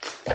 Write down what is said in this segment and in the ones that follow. Thank you.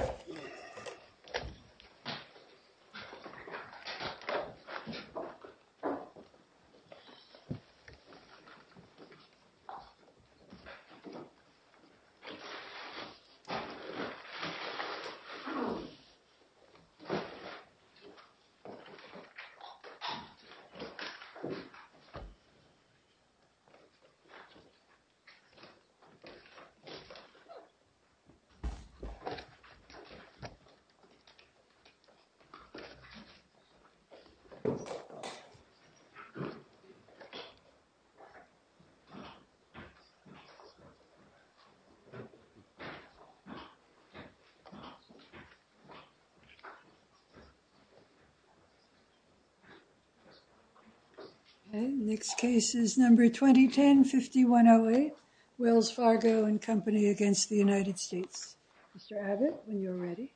Next case is number 2010-5108, Wells Fargo and Company against the United States. Mr. Abbott, when you're ready.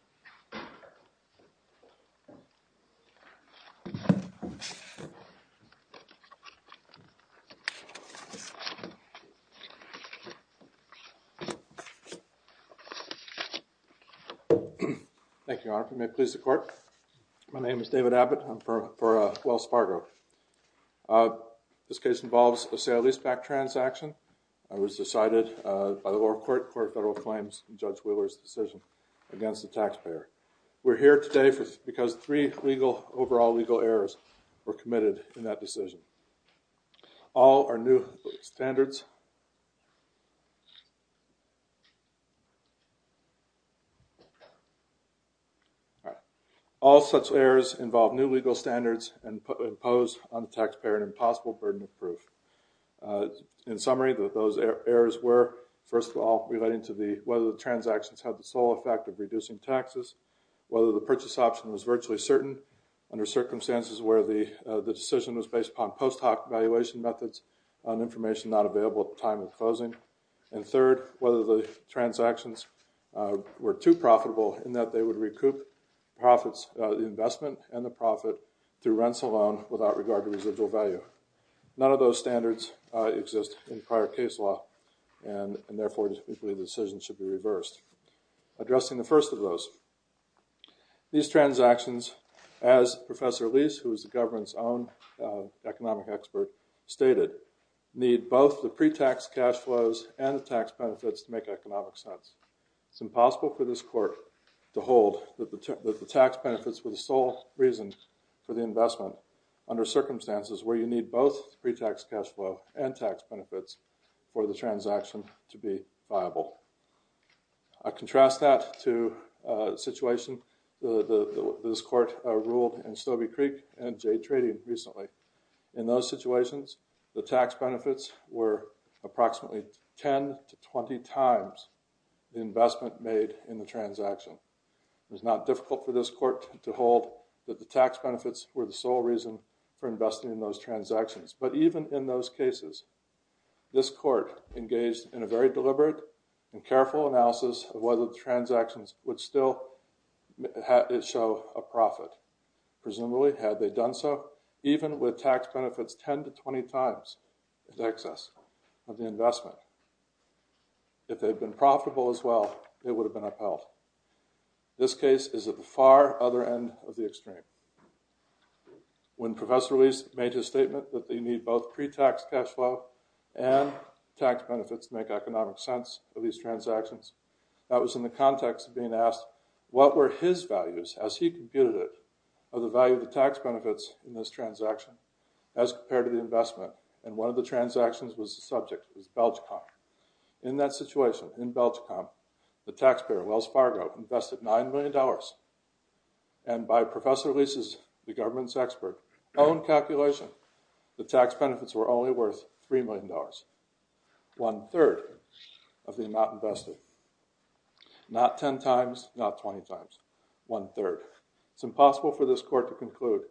Thank you, Your Honor. If you may please the court. My name is David Abbott. I'm for, for, uh, Wells Fargo. Uh, this case involves a sale-leaseback transaction. I was decided, uh, by the lower court for federal claims, Judge Wheeler's decision against the taxpayer. We're here today for, because three legal, overall legal errors were committed in that decision. All are new standards. All such errors involve new legal standards and impose on the taxpayer an impossible burden of proof. Uh, in summary that those errors were first of all, relating to the, whether the transactions have the sole effect of reducing taxes, whether the purchase option was virtually certain under circumstances where the, uh, the decision was based upon post hoc evaluation methods on information, not available at the time of closing. And third, whether the transactions, uh, were too profitable in that they would recoup profits, uh, the investment and the profit through rents alone, without regard to residual value. None of those standards, uh, exist in prior case law and, and therefore the decision should be reversed. Addressing the first of those. These transactions, as Professor Lease, who is the government's own, uh, economic expert stated, need both the pre-tax cash flows and the tax benefits to make economic sense. It's impossible for this court to hold that the, that the tax benefits were the sole reason for the investment. Under circumstances where you need both pre-tax cash flow and tax benefits for the transaction to be viable. I contrast that to a situation, the, the, this court, uh, ruled and Stobie Creek and Jay trading recently. In those situations, the tax benefits were approximately 10 to 20 times the investment made in the transaction. It was not difficult for this court to hold that the tax benefits were the sole reason for investing in those transactions. But even in those cases, this court engaged in a very deliberate and careful analysis of whether the transactions would still show a profit. Presumably had they done so, even with tax benefits, 10 to 20 times the excess of the investment. If they'd been profitable as well, it would have been upheld. This case is at the far other end of the extreme. When Professor Lease made his statement that they need both pre-tax cash flow and tax benefits to make economic sense of these transactions, that was in the context of being asked, what were his values as he computed it, of the value of the tax benefits in this transaction as compared to the investment? And one of the transactions was the subject, it was Belgium. In that situation in Belgium, the taxpayer, Wells Fargo, invested $9 million. Professor Lease is the government's expert. On calculation, the tax benefits were only worth $3 million, one-third of the amount invested. Not 10 times, not 20 times, one-third. It's impossible for this court to conclude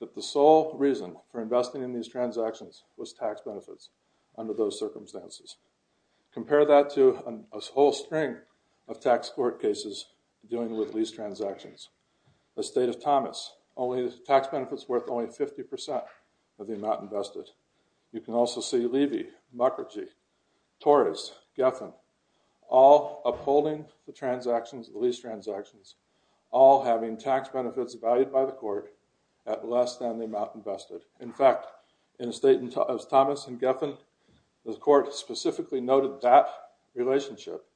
that the sole reason for investing in these transactions was tax benefits under those circumstances. Compare that to a whole string of tax court cases dealing with lease transactions. The state of Thomas, only the tax benefits worth only 50% of the amount invested. You can also see Levy, Mukherjee, Torres, Geffen, all upholding the transactions, the lease transactions, all having tax benefits valued by the court at less than the amount invested. In fact, in the state of Thomas and Geffen, the court specifically noted that the relationship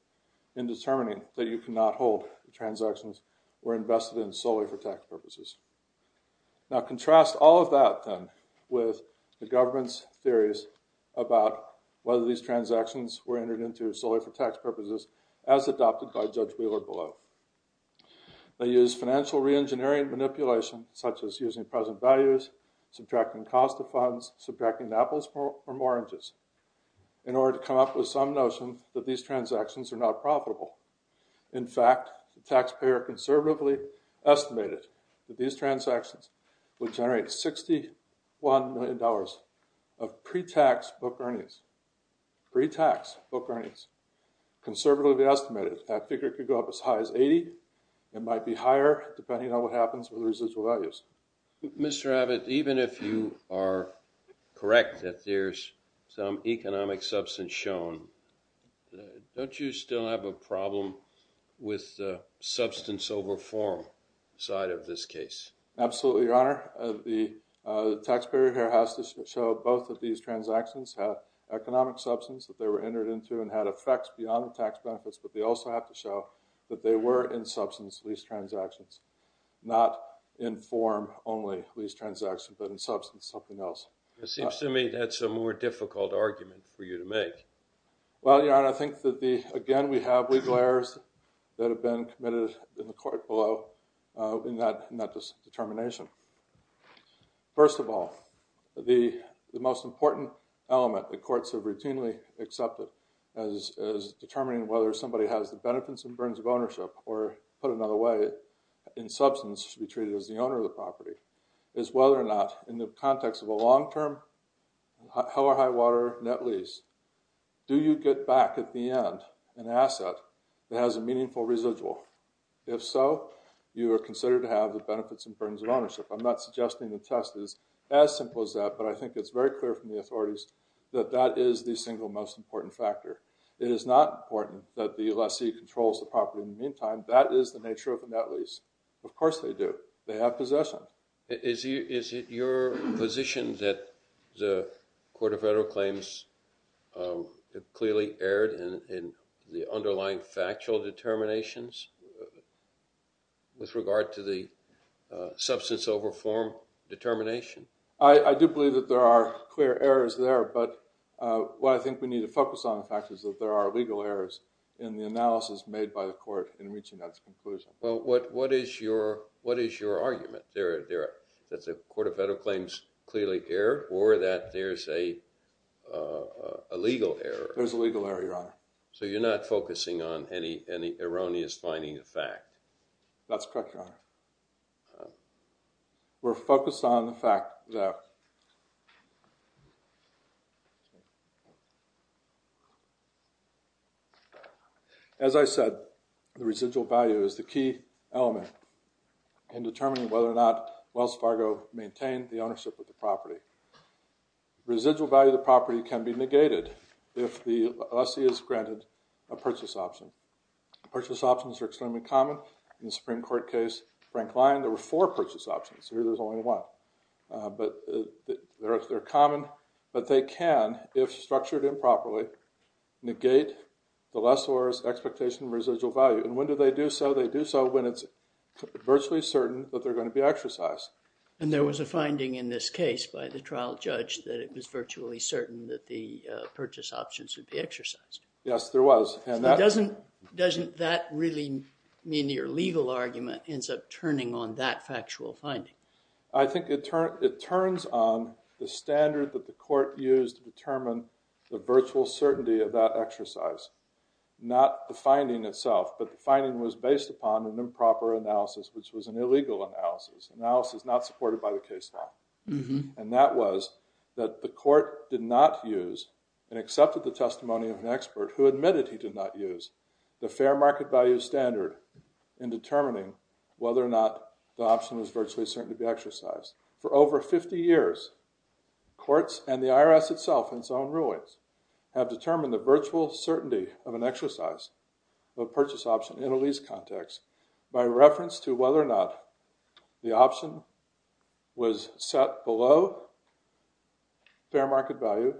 in determining that you cannot hold the transactions were invested in solely for tax purposes. Now contrast all of that then with the government's theories about whether these transactions were entered into solely for tax purposes as adopted by Judge Wheeler below. They use financial re-engineering manipulation, such as using present values, subtracting cost of funds, subtracting apples from oranges, in fact, these transactions are not profitable. In fact, the taxpayer conservatively estimated that these transactions would generate $61 million of pre-tax book earnings, pre-tax book earnings, conservatively estimated that figure could go up as high as 80 and might be higher depending on what happens with the residual values. Mr. Abbott, even if you are correct that there's some economic substance shown, don't you still have a problem with the substance over form side of this case? Absolutely, Your Honor. The taxpayer here has to show both of these transactions have economic substance that they were entered into and had effects beyond the tax benefits, but they also have to show that they were in substance, these transactions, not in form only, these transactions, but in substance, something else. It seems to me that's a more difficult argument for you to make. Well, Your Honor, I think that the, again, we have legal errors that have been committed in the court below in that determination. First of all, the most important element the courts have routinely accepted as determining whether somebody has the benefits and burdens of ownership or put another way, in substance, should be treated as the owner of the property, is whether or not in the context of a long-term hell or high water net lease, do you get back at the end an asset that has a meaningful residual? If so, you are considered to have the benefits and burdens of ownership. I'm not suggesting the test is as simple as that, but I think it's very clear from the authorities that that is the single most important factor. It is not important that the lessee controls the property. In the meantime, that is the nature of the net lease. Of course they do. They have possession. Is it your position that the Court of Federal Claims clearly erred in the underlying factual determinations with regard to the substance over form determination? I do believe that there are clear errors there, but what I think we need to focus on the fact is that there are legal errors in the analysis made by the court in reaching that conclusion. Well, what is your argument? That the Court of Federal Claims clearly erred or that there's a legal error? There's a legal error, Your Honor. So you're not focusing on any erroneous finding of fact? That's correct, Your Honor. We're focused on the fact that, as I said, the residual value is the key element in determining whether or not Wells Fargo maintained the ownership of the property. Residual value of the property can be negated if the lessee is granted a purchase option. Purchase options are extremely common. In the Supreme Court case, Frank Lyon, there were four purchase options. Here there's only one. But they're common, but they can, if structured improperly, negate the lessor's expectation of residual value. And when do they do so? They do so when it's virtually certain that they're going to be exercised. And there was a finding in this case by the trial judge that it was virtually certain that the purchase options would be exercised. Yes, there was. So doesn't that really mean your legal argument ends up turning on that factual finding? I think it turns on the standard that the court used to determine the virtual certainty of that exercise. Not the finding itself, but the finding was based upon an improper analysis, which was an illegal analysis, analysis not supported by the case law. And that was that the court did not use, and accepted the testimony of an expert who admitted he did not use, the fair market value standard in determining whether or not the option was virtually certain to be exercised. For over 50 years, courts and the IRS itself, in its own rulings, have considered the virtual certainty of an exercise of a purchase option in a lease context by reference to whether or not the option was set below fair market value,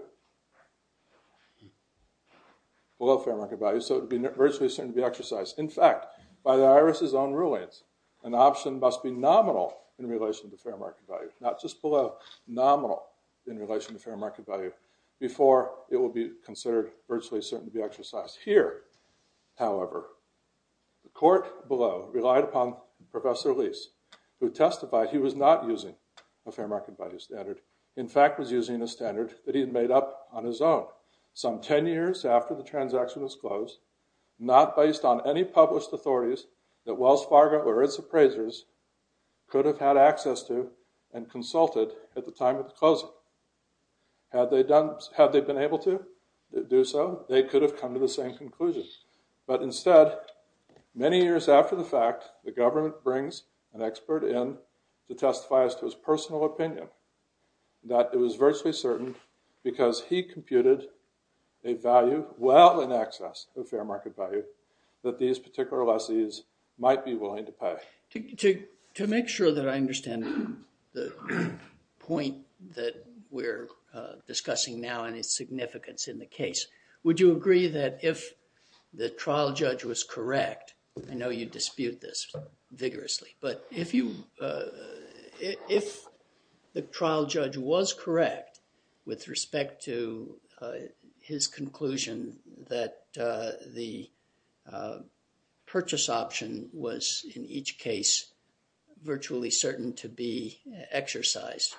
below fair market value, so it would be virtually certain to be exercised. In fact, by the IRS's own rulings, an option must be nominal in relation to fair market value, not just below, nominal in relation to fair market value before it will be considered virtually certain to be exercised. Here, however, the court below relied upon Professor Lease, who testified he was not using a fair market value standard, in fact, was using a standard that he had made up on his own, some 10 years after the transaction was closed, not based on any published authorities that Wells Fargo or its appraisers could have had access to and consulted at the time of the closing. Had they been able to do so, they could have come to the same conclusion. But instead, many years after the fact, the government brings an expert in to testify as to his personal opinion, that it was virtually certain, because he computed a value well in excess of fair market value, that these particular lessees might be willing to pay. To make sure that I understand the point that we're discussing now and its significance in the case, would you agree that if the trial judge was correct, I know you dispute this vigorously, but if the trial judge was each case virtually certain to be exercised,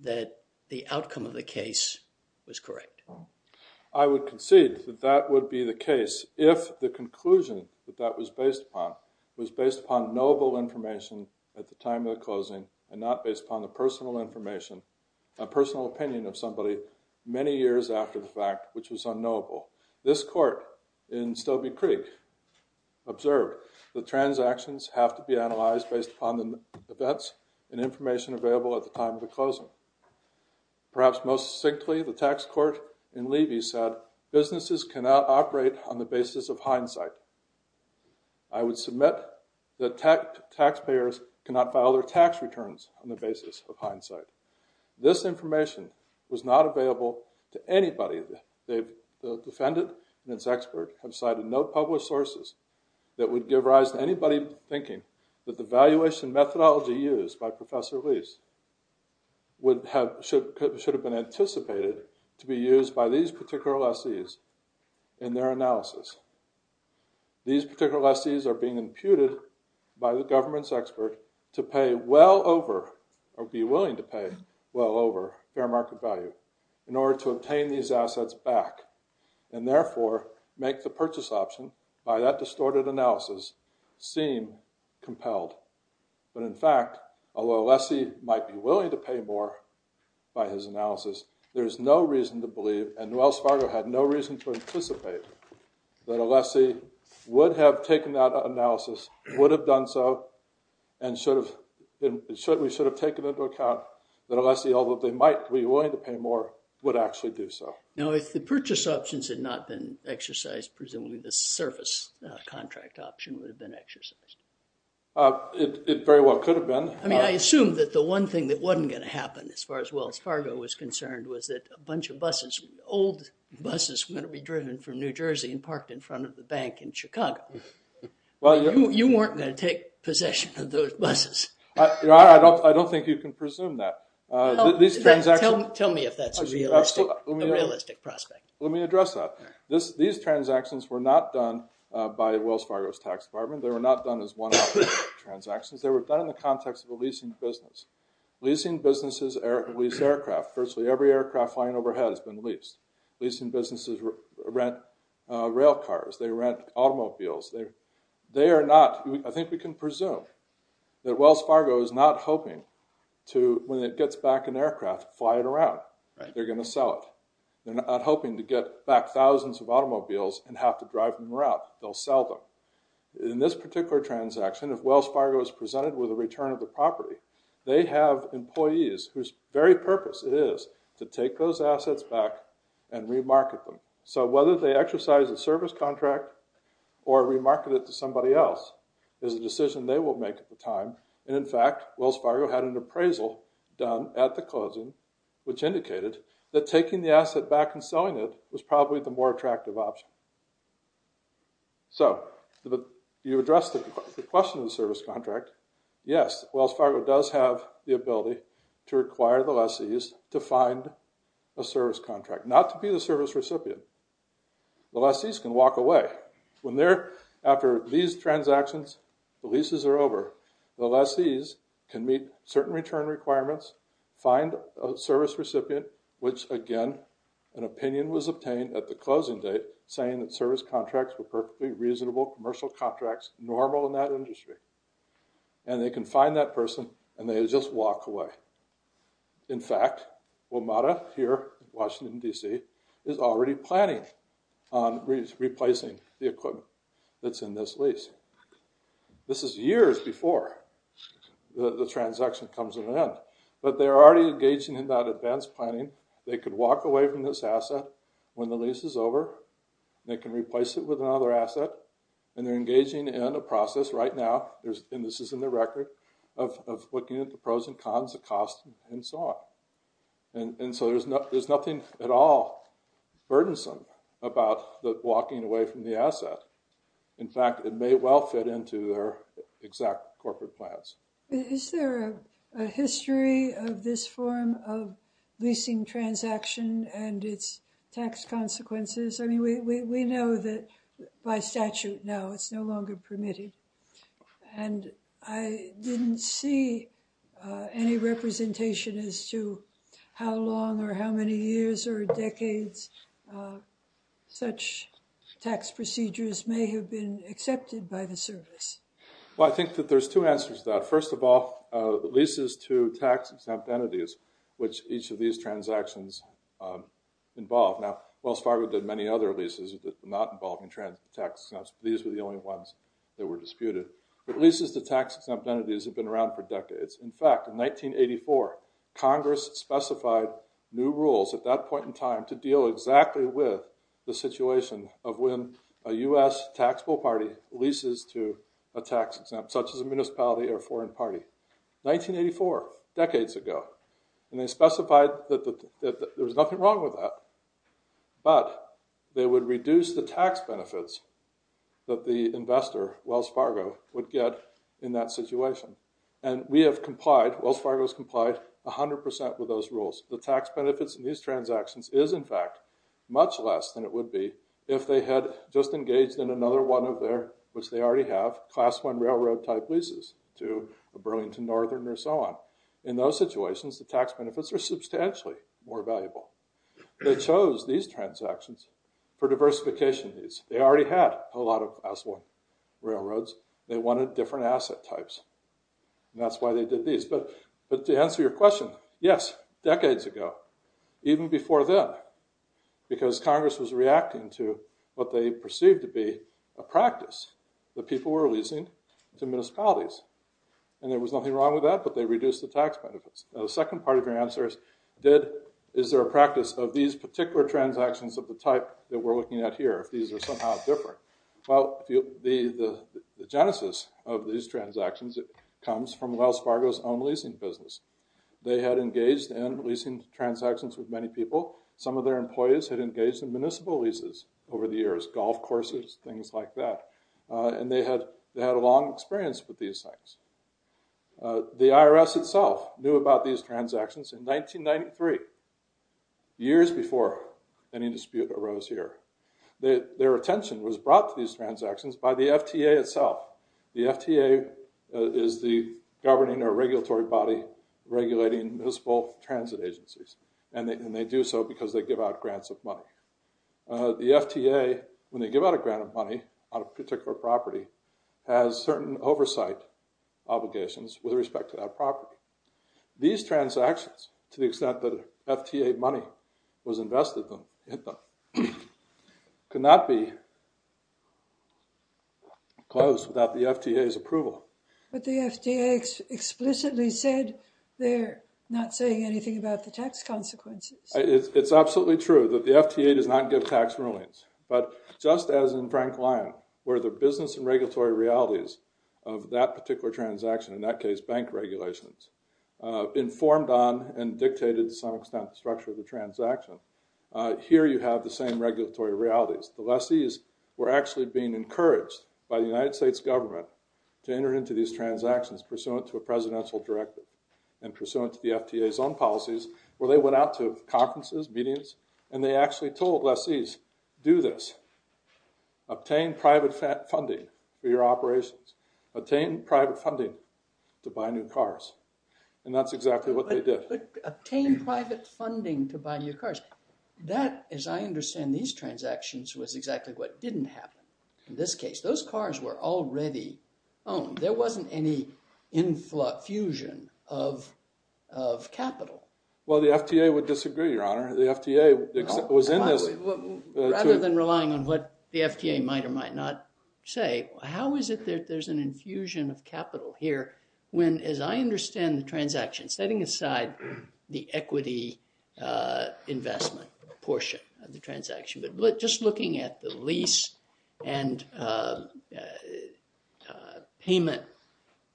that the outcome of the case was correct? I would concede that that would be the case if the conclusion that that was based upon was based upon knowable information at the time of the closing and not based upon the personal information, a personal opinion of somebody many years after the fact, which was unknowable. This court in Stobie Creek observed the transactions have to be analyzed based upon the events and information available at the time of the closing. Perhaps most succinctly, the tax court in Levy said, businesses cannot operate on the basis of hindsight. I would submit that taxpayers cannot file their tax returns on the basis of hindsight. This information was not available to anybody. The defendant and its expert have cited no published sources that would give rise to anybody thinking that the valuation methodology used by Professor Lease would have, should have been anticipated to be used by these particular lessees in their analysis. These particular lessees are being imputed by the government's expert to pay well over or be willing to pay well over fair market value in order to obtain these assets back and therefore make the purchase option by that distorted analysis seem compelled. But in fact, although a lessee might be willing to pay more by his analysis, there's no reason to believe and Wells Fargo had no reason to anticipate that a lessee would have taken that analysis, would have done so, and should have certainly should have taken into account that a lessee, although they might be willing to pay more, would actually do so. Now, if the purchase options had not been exercised, presumably the service contract option would have been exercised. It very well could have been. I mean, I assume that the one thing that wasn't going to happen as far as Wells Fargo was concerned was that a bunch of buses, old buses, were going to be driven from New Jersey and parked in front of the bank in Chicago. Well, you weren't going to take possession of those buses. Your Honor, I don't think you can presume that. These transactions... Tell me if that's a realistic prospect. Let me address that. These transactions were not done by Wells Fargo's tax department. They were not done as one-off transactions. They were done in the context of a leasing business. Leasing businesses lease aircraft. Virtually every aircraft flying overhead has been leased. Leasing businesses rent rail cars. They rent automobiles. They are not... I think we can presume that Wells Fargo is not hoping to, when it gets back an aircraft, fly it around. They're going to sell it. They're not hoping to get back thousands of automobiles and have to drive them around. They'll sell them. In this particular transaction, if Wells Fargo is presented with a return of the property, they have employees whose very purpose is to take those assets back and re-market them. So whether they exercise a service contract or re-market it to somebody else is a decision they will make at the time. And in fact, Wells Fargo had an appraisal done at the closing, which indicated that taking the asset back and selling it was probably the more attractive option. So you addressed the question of the service contract. Yes, Wells Fargo does have the ability to require the lessees to find a service contract, not to be the service recipient. The lessees can walk away. When they're after these transactions, the leases are over, the lessees can meet certain return requirements, find a service recipient, which again, an opinion was obtained at the closing date saying that service contracts were perfectly reasonable commercial contracts, normal in that industry. And they can find that person and they just walk away. In fact, WMATA here, Washington, D.C., is already planning on replacing the equipment that's in this lease. This is years before the transaction comes to an end, but they're already engaging in that advanced planning. They could walk away from this asset when the lease is over. They can replace it with another asset and they're engaging in a process right now. And this is in the record of looking at the pros and cons, the cost and so on. And so there's nothing at all burdensome about the walking away from the asset. In fact, it may well fit into their exact corporate plans. Is there a history of this form of leasing transaction and its tax consequences? I mean, we know that by statute now it's no longer permitted. And I didn't see any representation as to how long or how many years or decades such tax procedures may have been accepted by the service. Well, I think that there's two answers to that. First of all, the leases to tax exempt entities, which each of these transactions involved. Now, Wells Fargo did many other leases that were not involved in tax exempts. These were the only ones that were disputed. But leases to tax exempt entities have been around for decades. In fact, in 1984, Congress specified new rules at that point in time to deal exactly with the situation of when a U.S. taxable party leases to a tax exempt, such as a municipality or foreign party. Nineteen eighty four decades ago. And they specified that there was nothing wrong with that. But they would reduce the tax benefits that the investor, Wells Fargo, would get in that situation. And we have complied, Wells Fargo has complied 100 percent with those rules. The tax benefits in these transactions is, in fact, much less than it would be if they had just engaged in another one of their, which they already have, class one railroad type leases to the Burlington Northern or so on. They chose these transactions for diversification needs. They already had a lot of class one railroads. They wanted different asset types. That's why they did these. But to answer your question, yes, decades ago, even before then, because Congress was reacting to what they perceived to be a practice that people were leasing to municipalities. And there was nothing wrong with that, but they reduced the tax benefits. The second part of your answer is, is there a practice of these particular transactions of the type that we're looking at here, if these are somehow different? Well, the genesis of these transactions comes from Wells Fargo's own leasing business. They had engaged in leasing transactions with many people. Some of their employees had engaged in municipal leases over the years, golf courses, things like that. And they had a long experience with these things. The IRS itself knew about these transactions in 1993, years before any dispute arose here. Their attention was brought to these transactions by the FTA itself. The FTA is the governing or regulatory body regulating municipal transit agencies. And they do so because they give out grants of money. The FTA, when they give out a grant of money on a particular property, has certain oversight obligations with respect to that property. These transactions, to the extent that FTA money was invested in them, could not be closed without the FTA's approval. But the FTA explicitly said they're not saying anything about the tax consequences. It's absolutely true that the FTA does not give tax rulings. But just as in Frank Lyon, where the business and regulatory realities of that particular transaction, in that case bank regulations, informed on and dictated to some extent the structure of the transaction, here you have the same regulatory realities. The lessees were actually being encouraged by the United States government to enter into these transactions pursuant to a presidential directive and pursuant to the FTA's own And they said, if you do this, obtain private funding for your operations. Obtain private funding to buy new cars. And that's exactly what they did. But obtain private funding to buy new cars, that, as I understand these transactions, was exactly what didn't happen in this case. Those cars were already owned. There wasn't any infusion of capital. Well, the FTA would disagree, Your Honor. The FTA was in this. Rather than relying on what the FTA might or might not say, how is it that there's an infusion of capital here when, as I understand the transaction, setting aside the equity investment portion of the transaction, but just looking at the lease and payment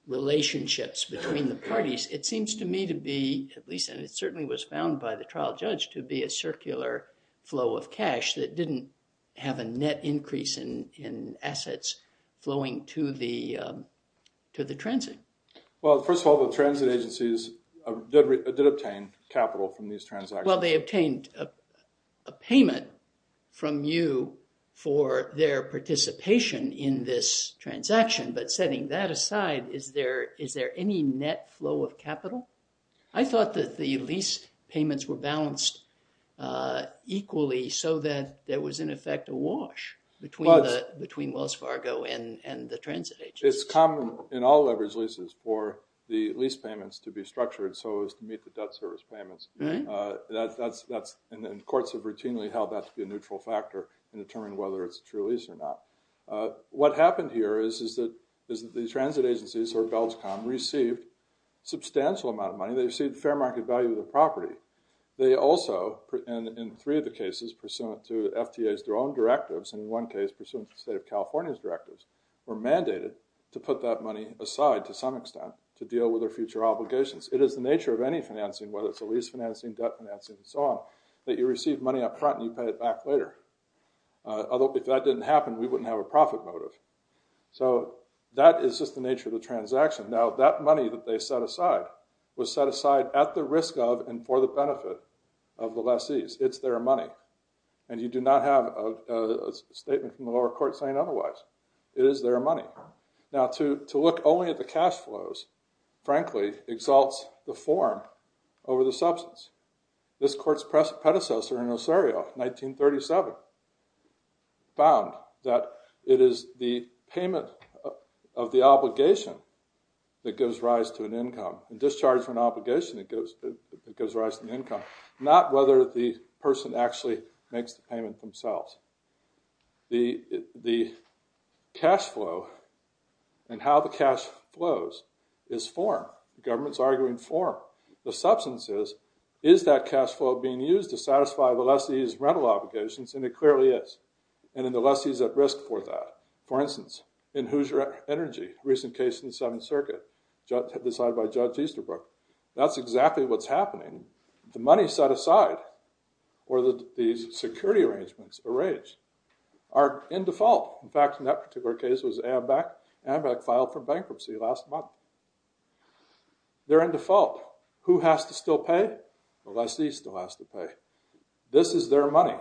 relationships between the parties, it seems to me to be, at least, and it certainly was found by the trial judge, to be a circular flow of cash that didn't have a net increase in assets flowing to the transit. Well, first of all, the transit agencies did obtain capital from these transactions. Well, they obtained a payment from you for their participation in this transaction. But setting that aside, is there any net flow of capital? I thought that the lease payments were balanced equally so that there was, in effect, a wash between Wells Fargo and the transit agencies. It's common in all leveraged leases for the lease payments to be structured so as to meet the debt service payments. And courts have routinely held that to be a neutral factor in determining whether it's a true lease or not. What happened here is that the transit agencies, or Belchcom, received a substantial amount of money. They received fair market value of the property. They also, in three of the cases pursuant to FTA's, their own directives, and in one case pursuant to the state of California's directives, were mandated to put that money aside to some extent to deal with their future obligations. It is the nature of any financing, whether it's a lease financing, debt financing, and so on, that you receive money up front and you pay it back later. Although if that didn't happen, we wouldn't have a profit motive. So that is just the nature of the transaction. Now, that money that they set aside was set aside at the risk of and for the benefit of the lessees. It's their money. And you do not have a statement from the lower court saying otherwise. It is their money. Now, to look only at the cash flows, frankly, exalts the form over the substance. This court's predecessor in Osario, 1937, found that it is the payment of the obligation that gives rise to an income and discharge of an obligation that gives rise to an income, not whether the person actually makes the payment themselves. The cash flow and how the cash flows is form. The government's arguing form. The substance is, is that cash flow being used to satisfy the lessee's rental obligations? And it clearly is. And then the lessee's at risk for that. For instance, in Hoosier Energy, a recent case in the Seventh Circuit, decided by Judge Easterbrook. That's exactly what's happening. The money set aside, or these security arrangements arranged, are in default. In fact, in that particular case, it was Ambec filed for bankruptcy last month. They're in default. Who has to still pay? The lessee still has to pay. This is their money.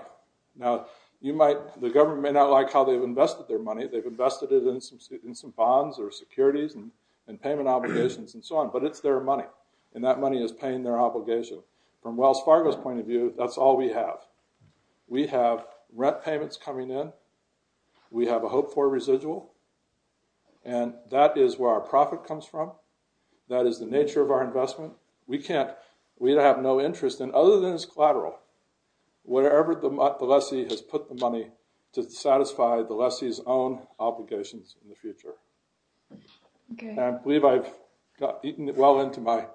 Now, you might, the government may not like how they've invested their money. They've invested it in some bonds or securities and payment obligations and so on. But it's their money. And that money is paying their obligation. From Wells Fargo's point of view, that's all we have. We have rent payments coming in. We have a hope for residual. And that is where our profit comes from. That is the nature of our investment. We have no interest in, other than as collateral, whatever the lessee has put the money to satisfy the lessee's own obligations in the future. And I believe I've eaten well into my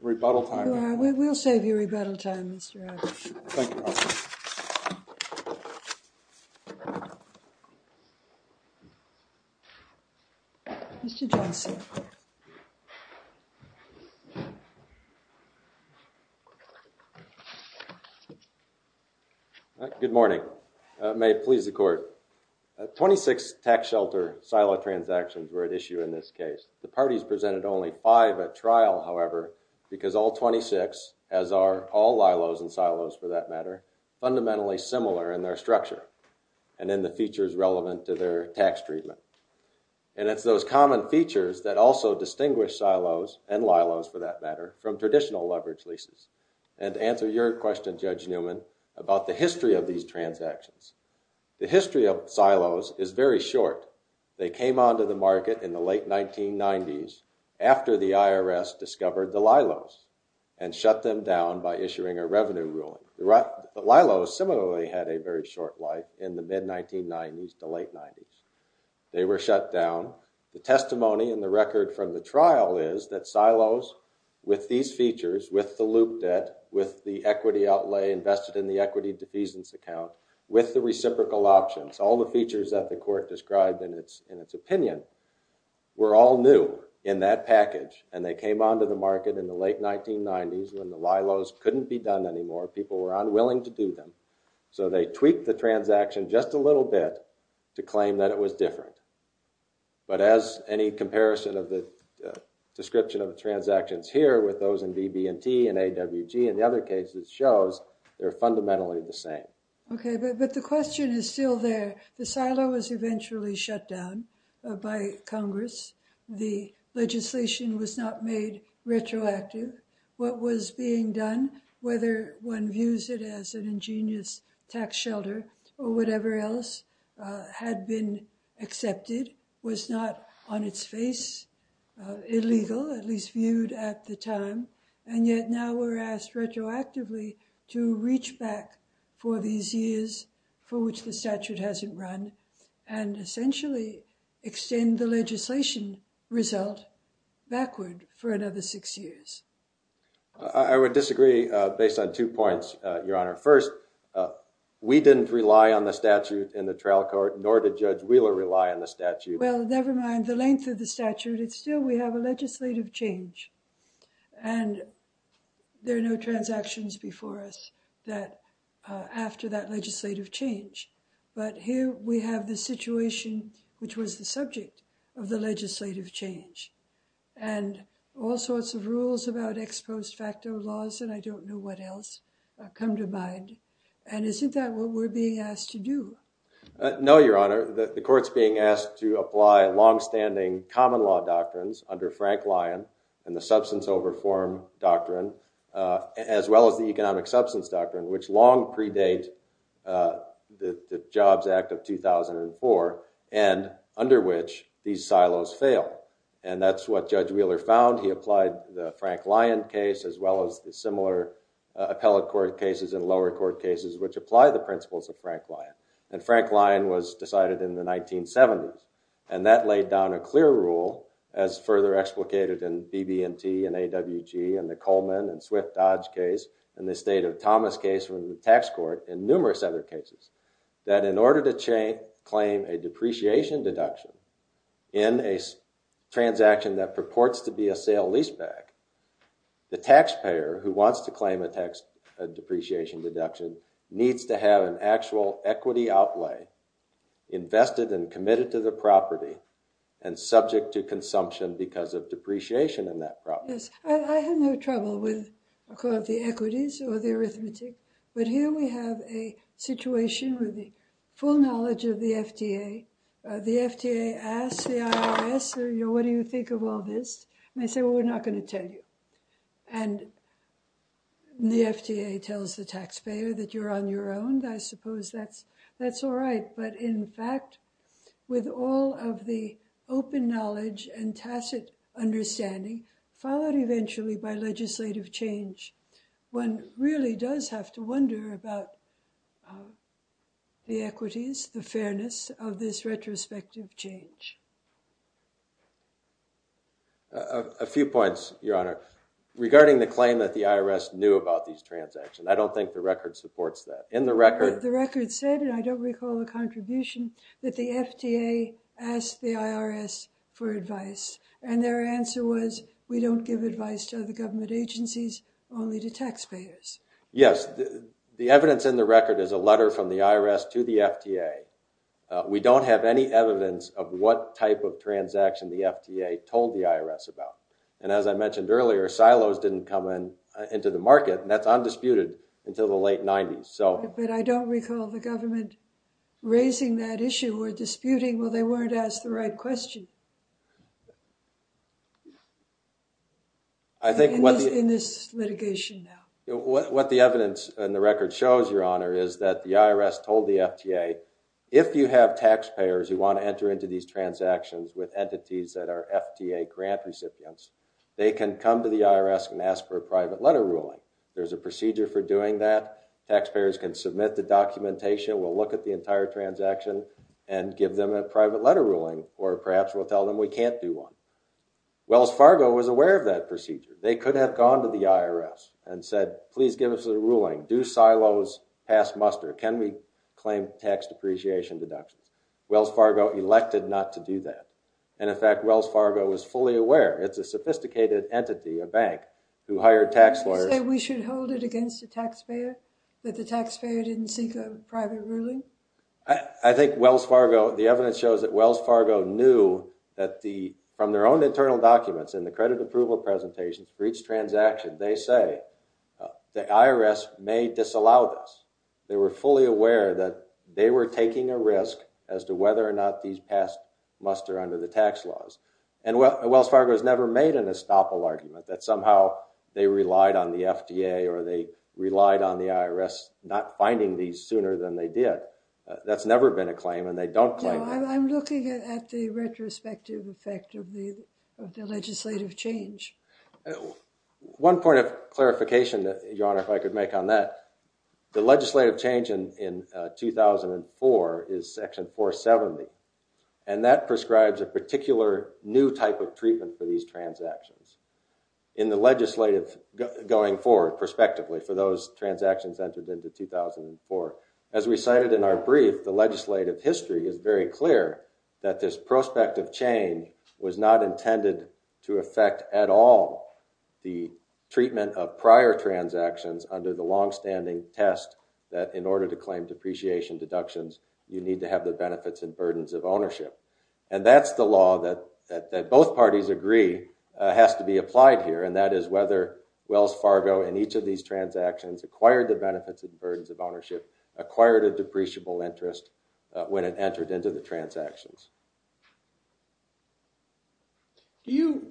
rebuttal time. You are. We'll save you rebuttal time, Mr. Adler. Thank you. Mr. Johnson. Good morning. May it please the court. 26 tax shelter silo transactions were at issue in this case. The parties presented only five at trial, however, because all 26, as are all lilos and silos, for that matter, fundamentally similar in their structure and in the features relevant to their tax treatment. And it's those common features that also distinguish silos and lilos, for that matter, from traditional tax shelters. And to answer your question, Judge Newman, about the history of these transactions, the history of silos is very short. They came onto the market in the late 1990s after the IRS discovered the lilos and shut them down by issuing a revenue ruling. Lilos similarly had a very short life in the mid-1990s to late 90s. They were shut down. The testimony in the record from the trial is that silos, with these features, with the loop debt, with the equity outlay invested in the equity defeasance account, with the reciprocal options, all the features that the court described in its opinion, were all new in that package. And they came onto the market in the late 1990s when the lilos couldn't be done anymore. People were unwilling to do them. So they tweaked the transaction just a little bit to claim that it was different. But as any comparison of the description of transactions here with those in BB&T and AWG and the other cases shows, they're fundamentally the same. OK, but the question is still there. The silo was eventually shut down by Congress. The legislation was not made retroactive. What was being done, whether one views it as an ingenious tax shelter or whatever else, had been accepted, was not on its face, illegal, at least viewed at the time. And yet now we're asked retroactively to reach back for these years for which the statute hasn't run and essentially extend the legislation result backward for another six years. I would disagree based on two points, Your Honor. First, we didn't rely on the statute in the trial court, nor did Judge Wheeler rely on the statute. Well, never mind the length of the statute. Still, we have a legislative change. And there are no transactions before us after that legislative change. But here we have the situation which was the subject of the legislative change. And all sorts of rules about ex post facto laws, and I don't know what else, come to mind. And isn't that what we're being asked to do? No, Your Honor. The court's being asked to apply longstanding common law doctrines under Frank Lyon and the substance over form doctrine, as well as the economic substance doctrine, which long predate the Jobs Act of 2004, and under which these silos fail. And that's what Judge Wheeler found. He applied the Frank Lyon case, as well as the similar appellate court cases and lower court cases which apply the principles of Frank Lyon. And Frank Lyon was decided in the 1970s. And that laid down a clear rule, as further explicated in BB&T and AWG and the Coleman and Swift-Dodge case, and the State of Thomas case from the tax court, and numerous other cases, that in order to claim a depreciation deduction in a transaction that purports to be a sale-leaseback, the taxpayer who wants to claim a depreciation deduction needs to have an actual equity outlay, invested and committed to the property, and subject to consumption because of depreciation in that property. Yes. I have no trouble with the equities or the arithmetic. But here we have a situation with the full knowledge of the FDA. The FDA asks the IRS, what do you think of all this? And they say, well, we're not going to tell you. And the FDA tells the taxpayer that you're on your own. I suppose that's all right. But in fact, with all of the open knowledge and tacit understanding, followed eventually by legislative change, one really does have to wonder about the equities, the fairness of this retrospective change. A few points, Your Honor, regarding the claim that the IRS knew about these transactions. I don't think the record supports that. In the record, the record said, and I don't recall the contribution, that the FDA asked the IRS for advice. And their answer was, we don't give advice to other government agencies, only to taxpayers. Yes. The evidence in the record is a letter from the IRS to the FDA. We don't have any evidence of what type of transaction the FDA told the IRS about. And as I mentioned earlier, silos didn't come into the market. And that's undisputed until the late 90s. But I don't recall the government raising that issue or disputing, well, they weren't asked the right question in this litigation now. What the evidence in the record shows, Your Honor, is that the IRS told the FDA, if you have taxpayers who want to enter into these transactions with entities that are FDA grant recipients, they can come to the IRS and ask for a private letter ruling. There's a procedure for doing that. Taxpayers can submit the documentation. We'll look at the entire transaction and give them a private letter ruling, or perhaps we'll tell them we can't do one. Wells Fargo was aware of that procedure. They could have gone to the IRS and said, please give us a ruling. Do silos pass muster? Can we claim tax depreciation deductions? Wells Fargo elected not to do that. And in fact, Wells Fargo was fully aware. It's a sophisticated entity, a bank, who hired tax lawyers. Did you say we should hold it against the taxpayer, that the taxpayer didn't seek a private ruling? I think Wells Fargo, the evidence shows that Wells Fargo knew that the, from their own presentations for each transaction, they say the IRS may disallow this. They were fully aware that they were taking a risk as to whether or not these pass muster under the tax laws. And Wells Fargo has never made an estoppel argument that somehow they relied on the FDA or they relied on the IRS not finding these sooner than they did. That's never been a claim, and they don't claim that. No, I'm looking at the retrospective effect of the legislative change. And one point of clarification that, Your Honor, if I could make on that, the legislative change in 2004 is section 470, and that prescribes a particular new type of treatment for these transactions in the legislative going forward, prospectively, for those transactions entered into 2004. As we cited in our brief, the legislative history is very clear that this prospective change was not intended to affect at all the treatment of prior transactions under the longstanding test that in order to claim depreciation deductions, you need to have the benefits and burdens of ownership. And that's the law that both parties agree has to be applied here, and that is whether Wells Fargo in each of these transactions acquired the benefits and burdens of ownership, acquired a depreciable interest when it entered into the transactions. Do you,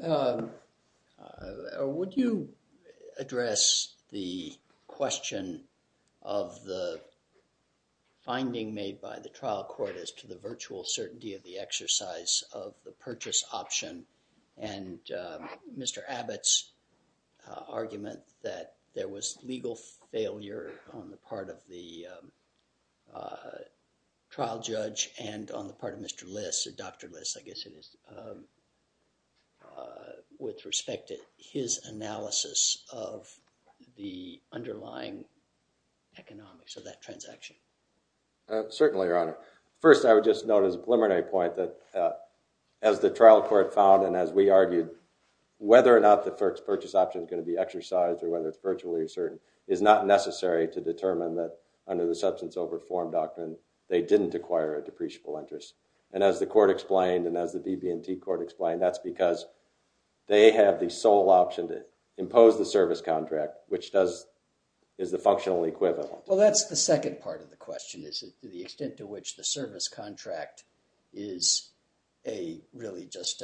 or would you address the question of the finding made by the trial court as to the virtual certainty of the exercise of the purchase option and Mr. Abbott's argument that there was legal failure on the part of the trial judge and on the part of Mr. Liss, Dr. Liss, I guess it is, with respect to his analysis of the underlying economics of that transaction? Certainly, Your Honor. First, I would just note as a preliminary point that as the trial court found and as we argued, whether or not the purchase option is going to be exercised or whether it's virtually certain is not necessary to determine that under the substance over form doctrine they didn't acquire a depreciable interest. And as the court explained and as the DB&T court explained, that's because they have the sole option to impose the service contract, which is the functional equivalent. Well, that's the second part of the question, is the extent to which the service contract is really just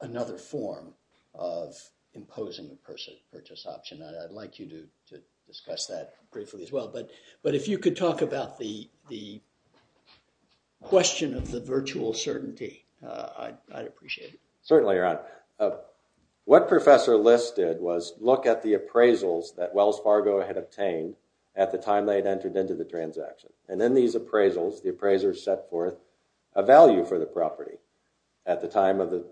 another form of imposing the purchase option. I'd like you to discuss that briefly as well, but if you could talk about the question of virtual certainty, I'd appreciate it. Certainly, Your Honor. What Professor Liss did was look at the appraisals that Wells Fargo had obtained at the time they had entered into the transaction. And in these appraisals, the appraiser set forth a value for the property at the time of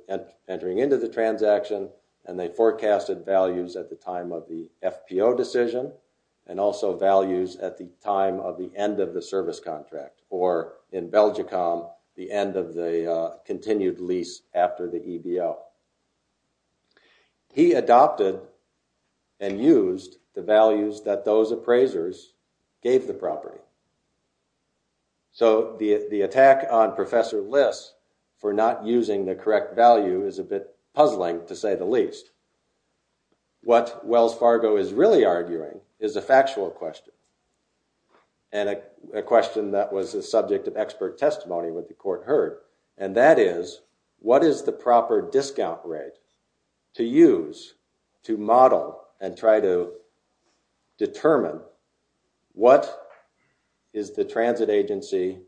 entering into the transaction, and they forecasted values at the time of the FPO decision and also values at the time of the end of the service contract. Or in Belgicom, the end of the continued lease after the EBO. He adopted and used the values that those appraisers gave the property. So the attack on Professor Liss for not using the correct value is a bit puzzling, to say the least. What Wells Fargo is really arguing is a factual question. And a question that was the subject of expert testimony with the court heard, and that is, what is the proper discount rate to use to model and try to determine what is the transit agency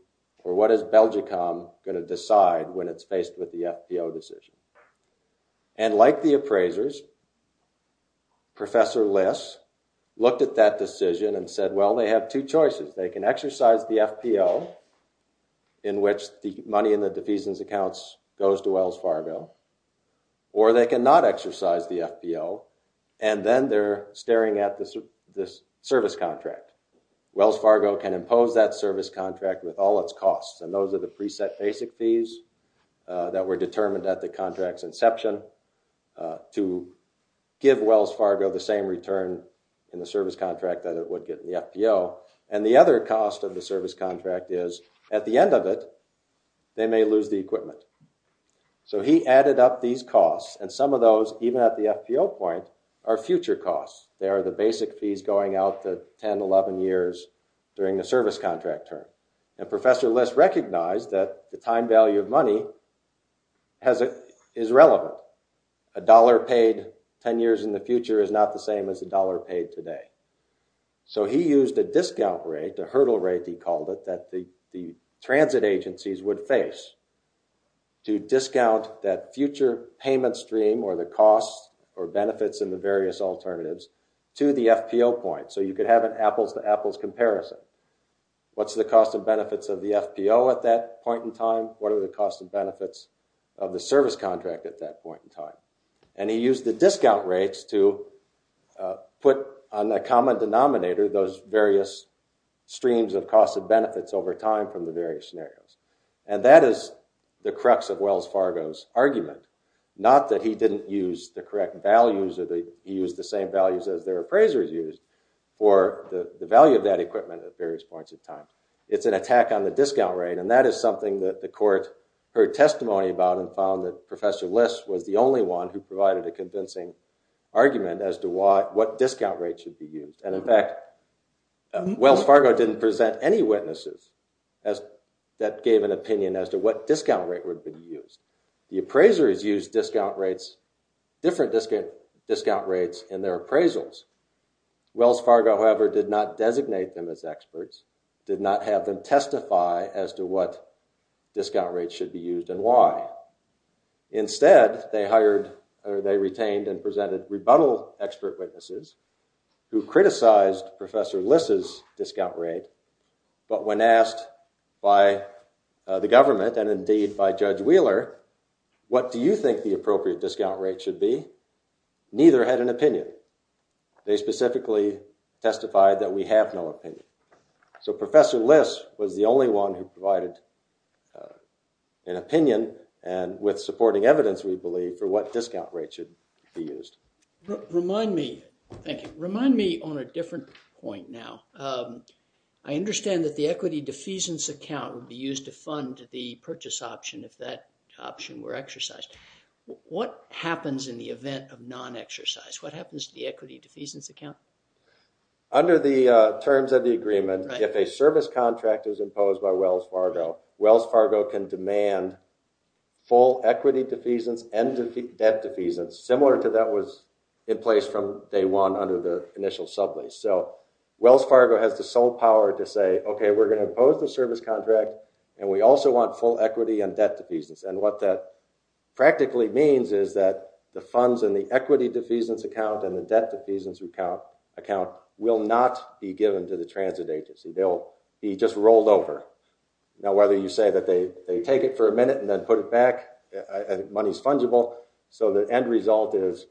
or what is Belgicom going to decide when it's faced with the FPO decision? And like the appraisers, Professor Liss looked at that decision and said, well, they have two choices. They can exercise the FPO, in which the money in the defeasance accounts goes to Wells Fargo. Or they can not exercise the FPO, and then they're staring at this service contract. Wells Fargo can impose that service contract with all its costs, and those are the preset basic fees that were determined at the contract's inception to give Wells Fargo the same return in the service contract that it would get in the FPO. And the other cost of the service contract is, at the end of it, they may lose the equipment. So he added up these costs. And some of those, even at the FPO point, are future costs. They are the basic fees going out to 10, 11 years during the service contract term. And Professor Liss recognized that the time value of money is relevant. A dollar paid 10 years in the future is not the same as a dollar paid today. So he used a discount rate, a hurdle rate he called it, that the transit agencies would face to discount that future payment stream or the costs or benefits in the various alternatives to the FPO point. So you could have an apples to apples comparison. What's the cost and benefits of the FPO at that point in time? What are the costs and benefits of the service contract at that point in time? And he used the discount rates to put on a common denominator those various streams of costs and benefits over time from the various scenarios. And that is the crux of Wells Fargo's argument. Not that he didn't use the correct values or that he used the same values as their appraisers used. Or the value of that equipment at various points of time. It's an attack on the discount rate. And that is something that the court heard testimony about and found that Professor Liss was the only one who provided a convincing argument as to what discount rate should be used. And in fact, Wells Fargo didn't present any witnesses that gave an opinion as to what discount rate would be used. The appraisers used different discount rates in their appraisals. Wells Fargo, however, did not designate them as experts. Did not have them testify as to what discount rate should be used and why. Instead, they hired or they retained and presented rebuttal expert witnesses who criticized Professor Liss's discount rate. But when asked by the government and indeed by Judge Wheeler, what do you think the appropriate discount rate should be? Neither had an opinion. They specifically testified that we have no opinion. So Professor Liss was the only one who provided an opinion and with supporting evidence, we believe, for what discount rate should be used. Remind me, thank you. Remind me on a different point now. I understand that the equity defeasance account would be used to fund the purchase option if that option were exercised. What happens in the event of non-exercise? What happens to the equity defeasance account? Under the terms of the agreement, if a service contract is imposed by Wells Fargo, Wells Fargo can demand full equity defeasance and debt defeasance. Similar to that was in place from day one under the initial sublease. So Wells Fargo has the sole power to say, okay, we're going to impose the service contract and we also want full equity and debt defeasance. And what that practically means is that the funds in the equity defeasance account and the debt defeasance account will not be given to the transit agency. They'll be just rolled over. Now, whether you say that they take it for a minute and then put it back, money's fungible. So the end result is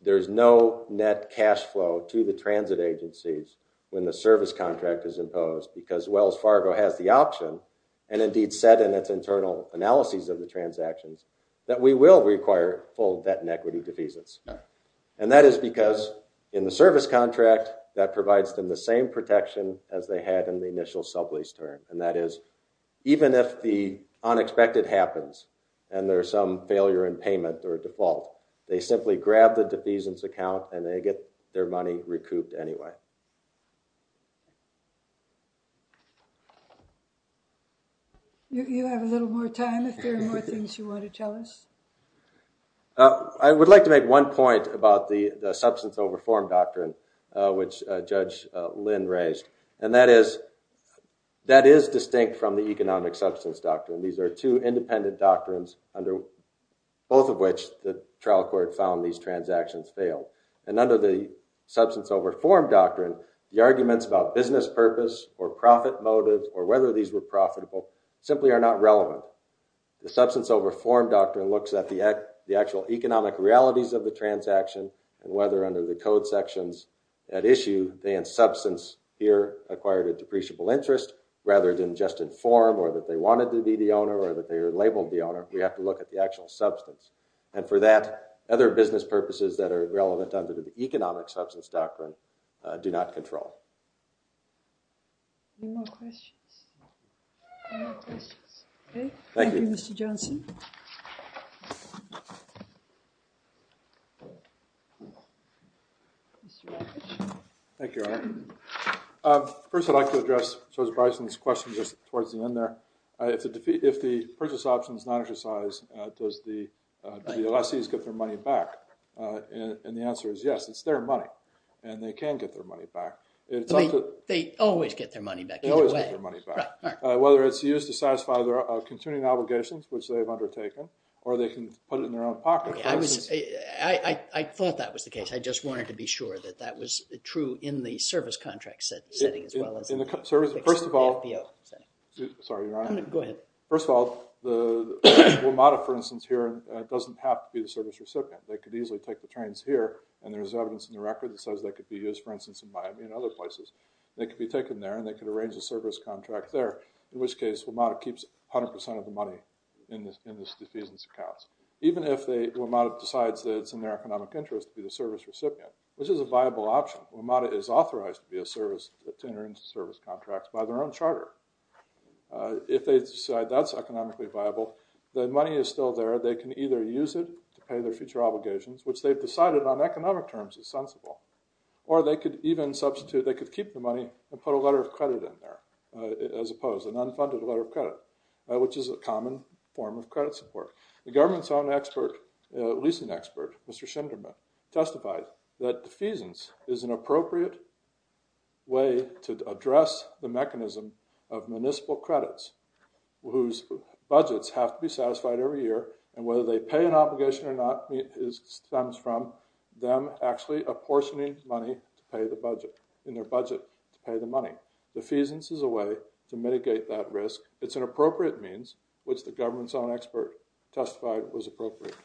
there's no net cash flow to the transit agencies when the service contract is imposed because Wells Fargo has the option and indeed said in its internal analyses of the transactions that we will require full debt and equity defeasance. And that is because in the service contract, that provides them the same protection as they had in the initial sublease term. And that is even if the unexpected happens and there's some failure in payment or default, they simply grab the defeasance account and they get their money recouped anyway. You have a little more time if there are more things you want to tell us. I would like to make one point about the substance over form doctrine, which Judge Lynn raised. And that is distinct from the economic substance doctrine. These are two independent doctrines, under both of which the trial court found these transactions failed. And under the substance over form doctrine, the arguments about business purpose or profit motive or whether these were profitable simply are not relevant. The substance over form doctrine looks at the actual economic realities of the transaction and whether under the code sections at issue, they in substance here acquired a depreciable interest rather than just in form or that they wanted to be the owner or that they are labeled the owner. We have to look at the actual substance. And for that, other business purposes that are relevant under the economic substance doctrine do not control. Any more questions? Thank you, Mr. Johnson. Thank you. First, I'd like to address Joseph Bryson's question just towards the end there. If the purchase option is not exercised, does the lessees get their money back? And the answer is yes, it's their money. And they can get their money back. They always get their money back. They always get their money back. Whether it's used to satisfy their continuing obligations, which they've undertaken, or they can put it in their own pocket. I thought that was the case. I just wanted to be sure that that was true in the service contract setting as well as in the FPO setting. Sorry, Your Honor. Go ahead. First of all, WMATA, for instance, here doesn't have to be the service recipient. They could easily take the trains here. And there's evidence in the record that says they could be used, for instance, in Miami and other places. They could be taken there, and they could arrange a service contract there. In which case, WMATA keeps 100% of the money in these defeasance accounts. Even if WMATA decides that it's in their economic interest to be the service recipient, which is a viable option. WMATA is authorized to be a service, to enter into service contracts by their own charter. If they decide that's economically viable, the money is still there. They can either use it to pay their future obligations, which they've decided on economic terms is sensible. Or they could even substitute, they could keep the money and put a letter of credit in there, as opposed, an unfunded letter of credit, which is a common form of credit support. The government's own expert, leasing expert, Mr. Shinderman, testified that defeasance is an appropriate way to address the mechanism of municipal credits, whose budgets have to be satisfied every year. And whether they pay an obligation or not stems from them actually apportioning money in their budget to pay the money. Defeasance is a way to mitigate that risk. It's an appropriate means, which the government's own expert testified was appropriate.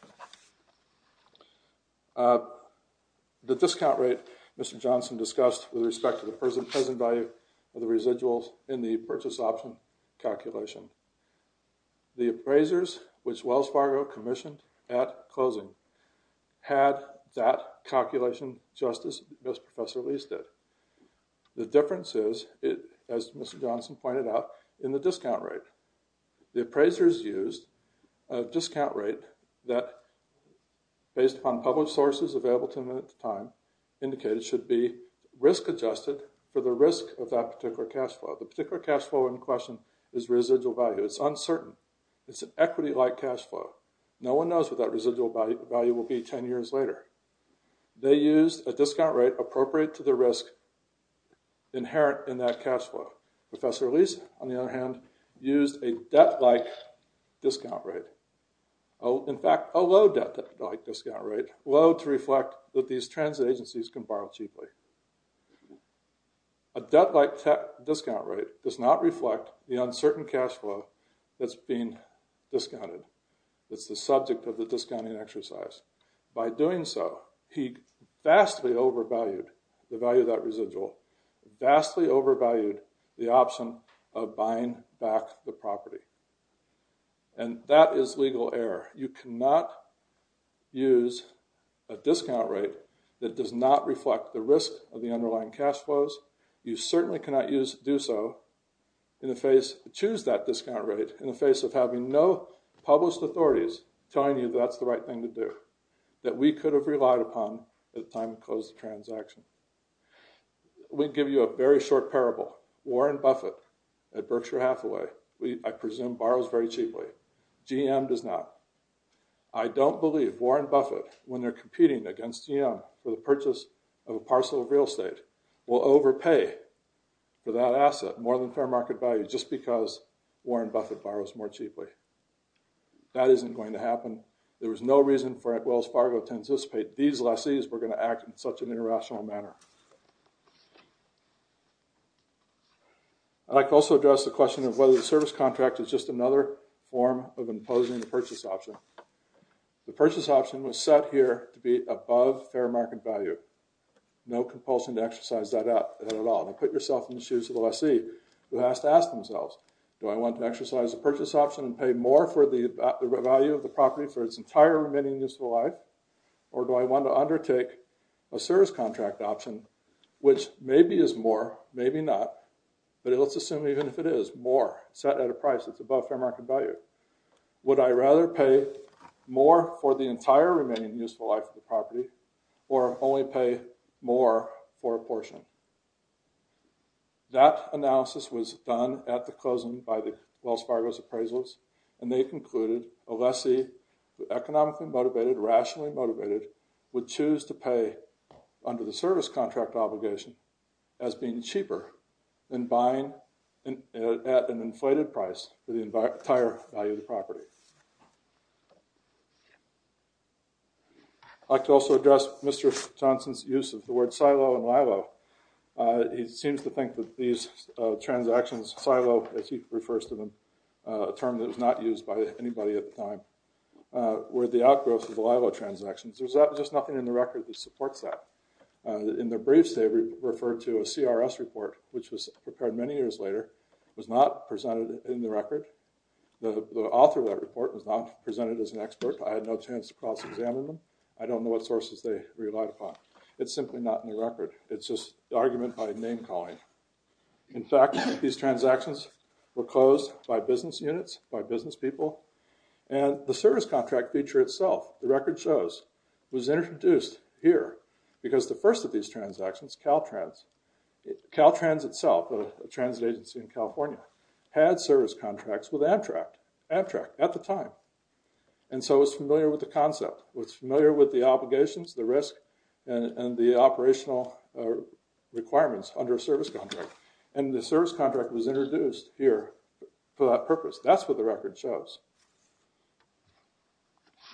The discount rate, Mr. Johnson discussed, with respect to the present value of the residuals in the purchase option calculation. The appraisers, which Wells Fargo commissioned at closing, had that calculation just as Professor Lee's did. The difference is, as Mr. Johnson pointed out, in the discount rate. The appraisers used a discount rate that, based upon public sources available to them at the time, indicated it should be risk adjusted for the risk of that particular cash flow. The particular cash flow in question is residual value. It's uncertain. It's an equity-like cash flow. No one knows what that residual value will be 10 years later. They used a discount rate appropriate to the risk inherent in that cash flow. Professor Lee's, on the other hand, used a debt-like discount rate. In fact, a low debt-like discount rate, low to reflect that these transit agencies can borrow cheaply. A debt-like discount rate does not reflect the uncertain cash flow that's being discounted. It's the subject of the discounting exercise. By doing so, he vastly overvalued the value of that residual. Vastly overvalued the option of buying back the property. And that is legal error. You cannot use a discount rate that does not reflect the risk of the underlying cash flows. You certainly cannot do so, in the face, choose that discount rate in the face of having no published authorities telling you that's the right thing to do, that we could have relied upon at the time we closed the transaction. We give you a very short parable. Warren Buffett at Berkshire Hathaway, I presume, borrows very cheaply. GM does not. I don't believe Warren Buffett, when they're competing against GM for the purchase of a parcel of real estate, will overpay for that asset more than fair market value, just because Warren Buffett borrows more cheaply. That isn't going to happen. There was no reason for Wells Fargo to anticipate these lessees were going to act in such an irrational manner. I'd like to also address the question of whether the service contract is just another form of imposing the purchase option. The purchase option was set here to be above fair market value. No compulsion to exercise that at all. Now, put yourself in the shoes of the lessee who has to ask themselves, do I want to exercise the purchase option and pay more for the value of the property for its entire remaining useful life, or do I want to undertake a service contract option, which maybe is more, maybe not, but let's assume even if it is, more set at a price that's above fair market value. Would I rather pay more for the entire remaining useful life of the property or only pay more for a portion? That analysis was done at the closing by the Wells Fargo's appraisals, and they concluded a lessee economically motivated, rationally motivated, would choose to pay under the service contract obligation as being cheaper than buying at an inflated price for the entire value of the property. I'd like to also address Mr. Johnson's use of the word silo and lilo. He seems to think that these transactions silo, as he refers to them, a term that was not used by anybody at the time, were the outgrowth of the lilo transactions. There's just nothing in the record that supports that. In their briefs, they refer to a CRS report, which was prepared many years later, was not presented in the record. The author of that report was not presented as an expert. I had no chance to cross-examine them. I don't know what sources they relied upon. It's simply not in the record. It's just argument by name calling. In fact, these transactions were closed by business units, by business people, and the service contract feature itself, the record shows, was introduced here because the first of these transactions, Caltrans, Caltrans itself, a transit agency in California, had service contracts with Amtrak, Amtrak at the time, and so was familiar with the concept, was familiar with the obligations, the risk, and the operational requirements under a service contract, and the service contract was introduced here for that purpose. That's what the record shows.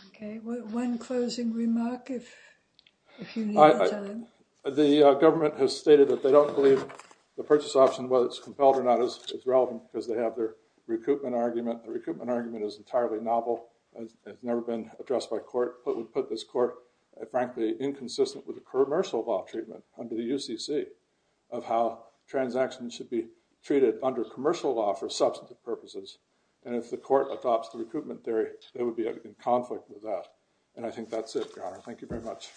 Okay, one closing remark if you need to tell him. The government has stated that they don't believe the purchase option, whether it's compelled or not, is relevant because they have their recoupment argument. The recoupment argument is entirely novel. It's never been addressed by court, but would put this court, frankly, inconsistent with the commercial law treatment under the UCC of how transactions should be treated under commercial law for substantive purposes, and if the court adopts the recoupment theory, they would be in conflict with that, and I think that's it, Your Honor. Thank you very much.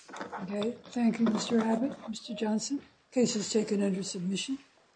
Okay, thank you, Mr. Abbott, Mr. Johnson. Case is taken under submission.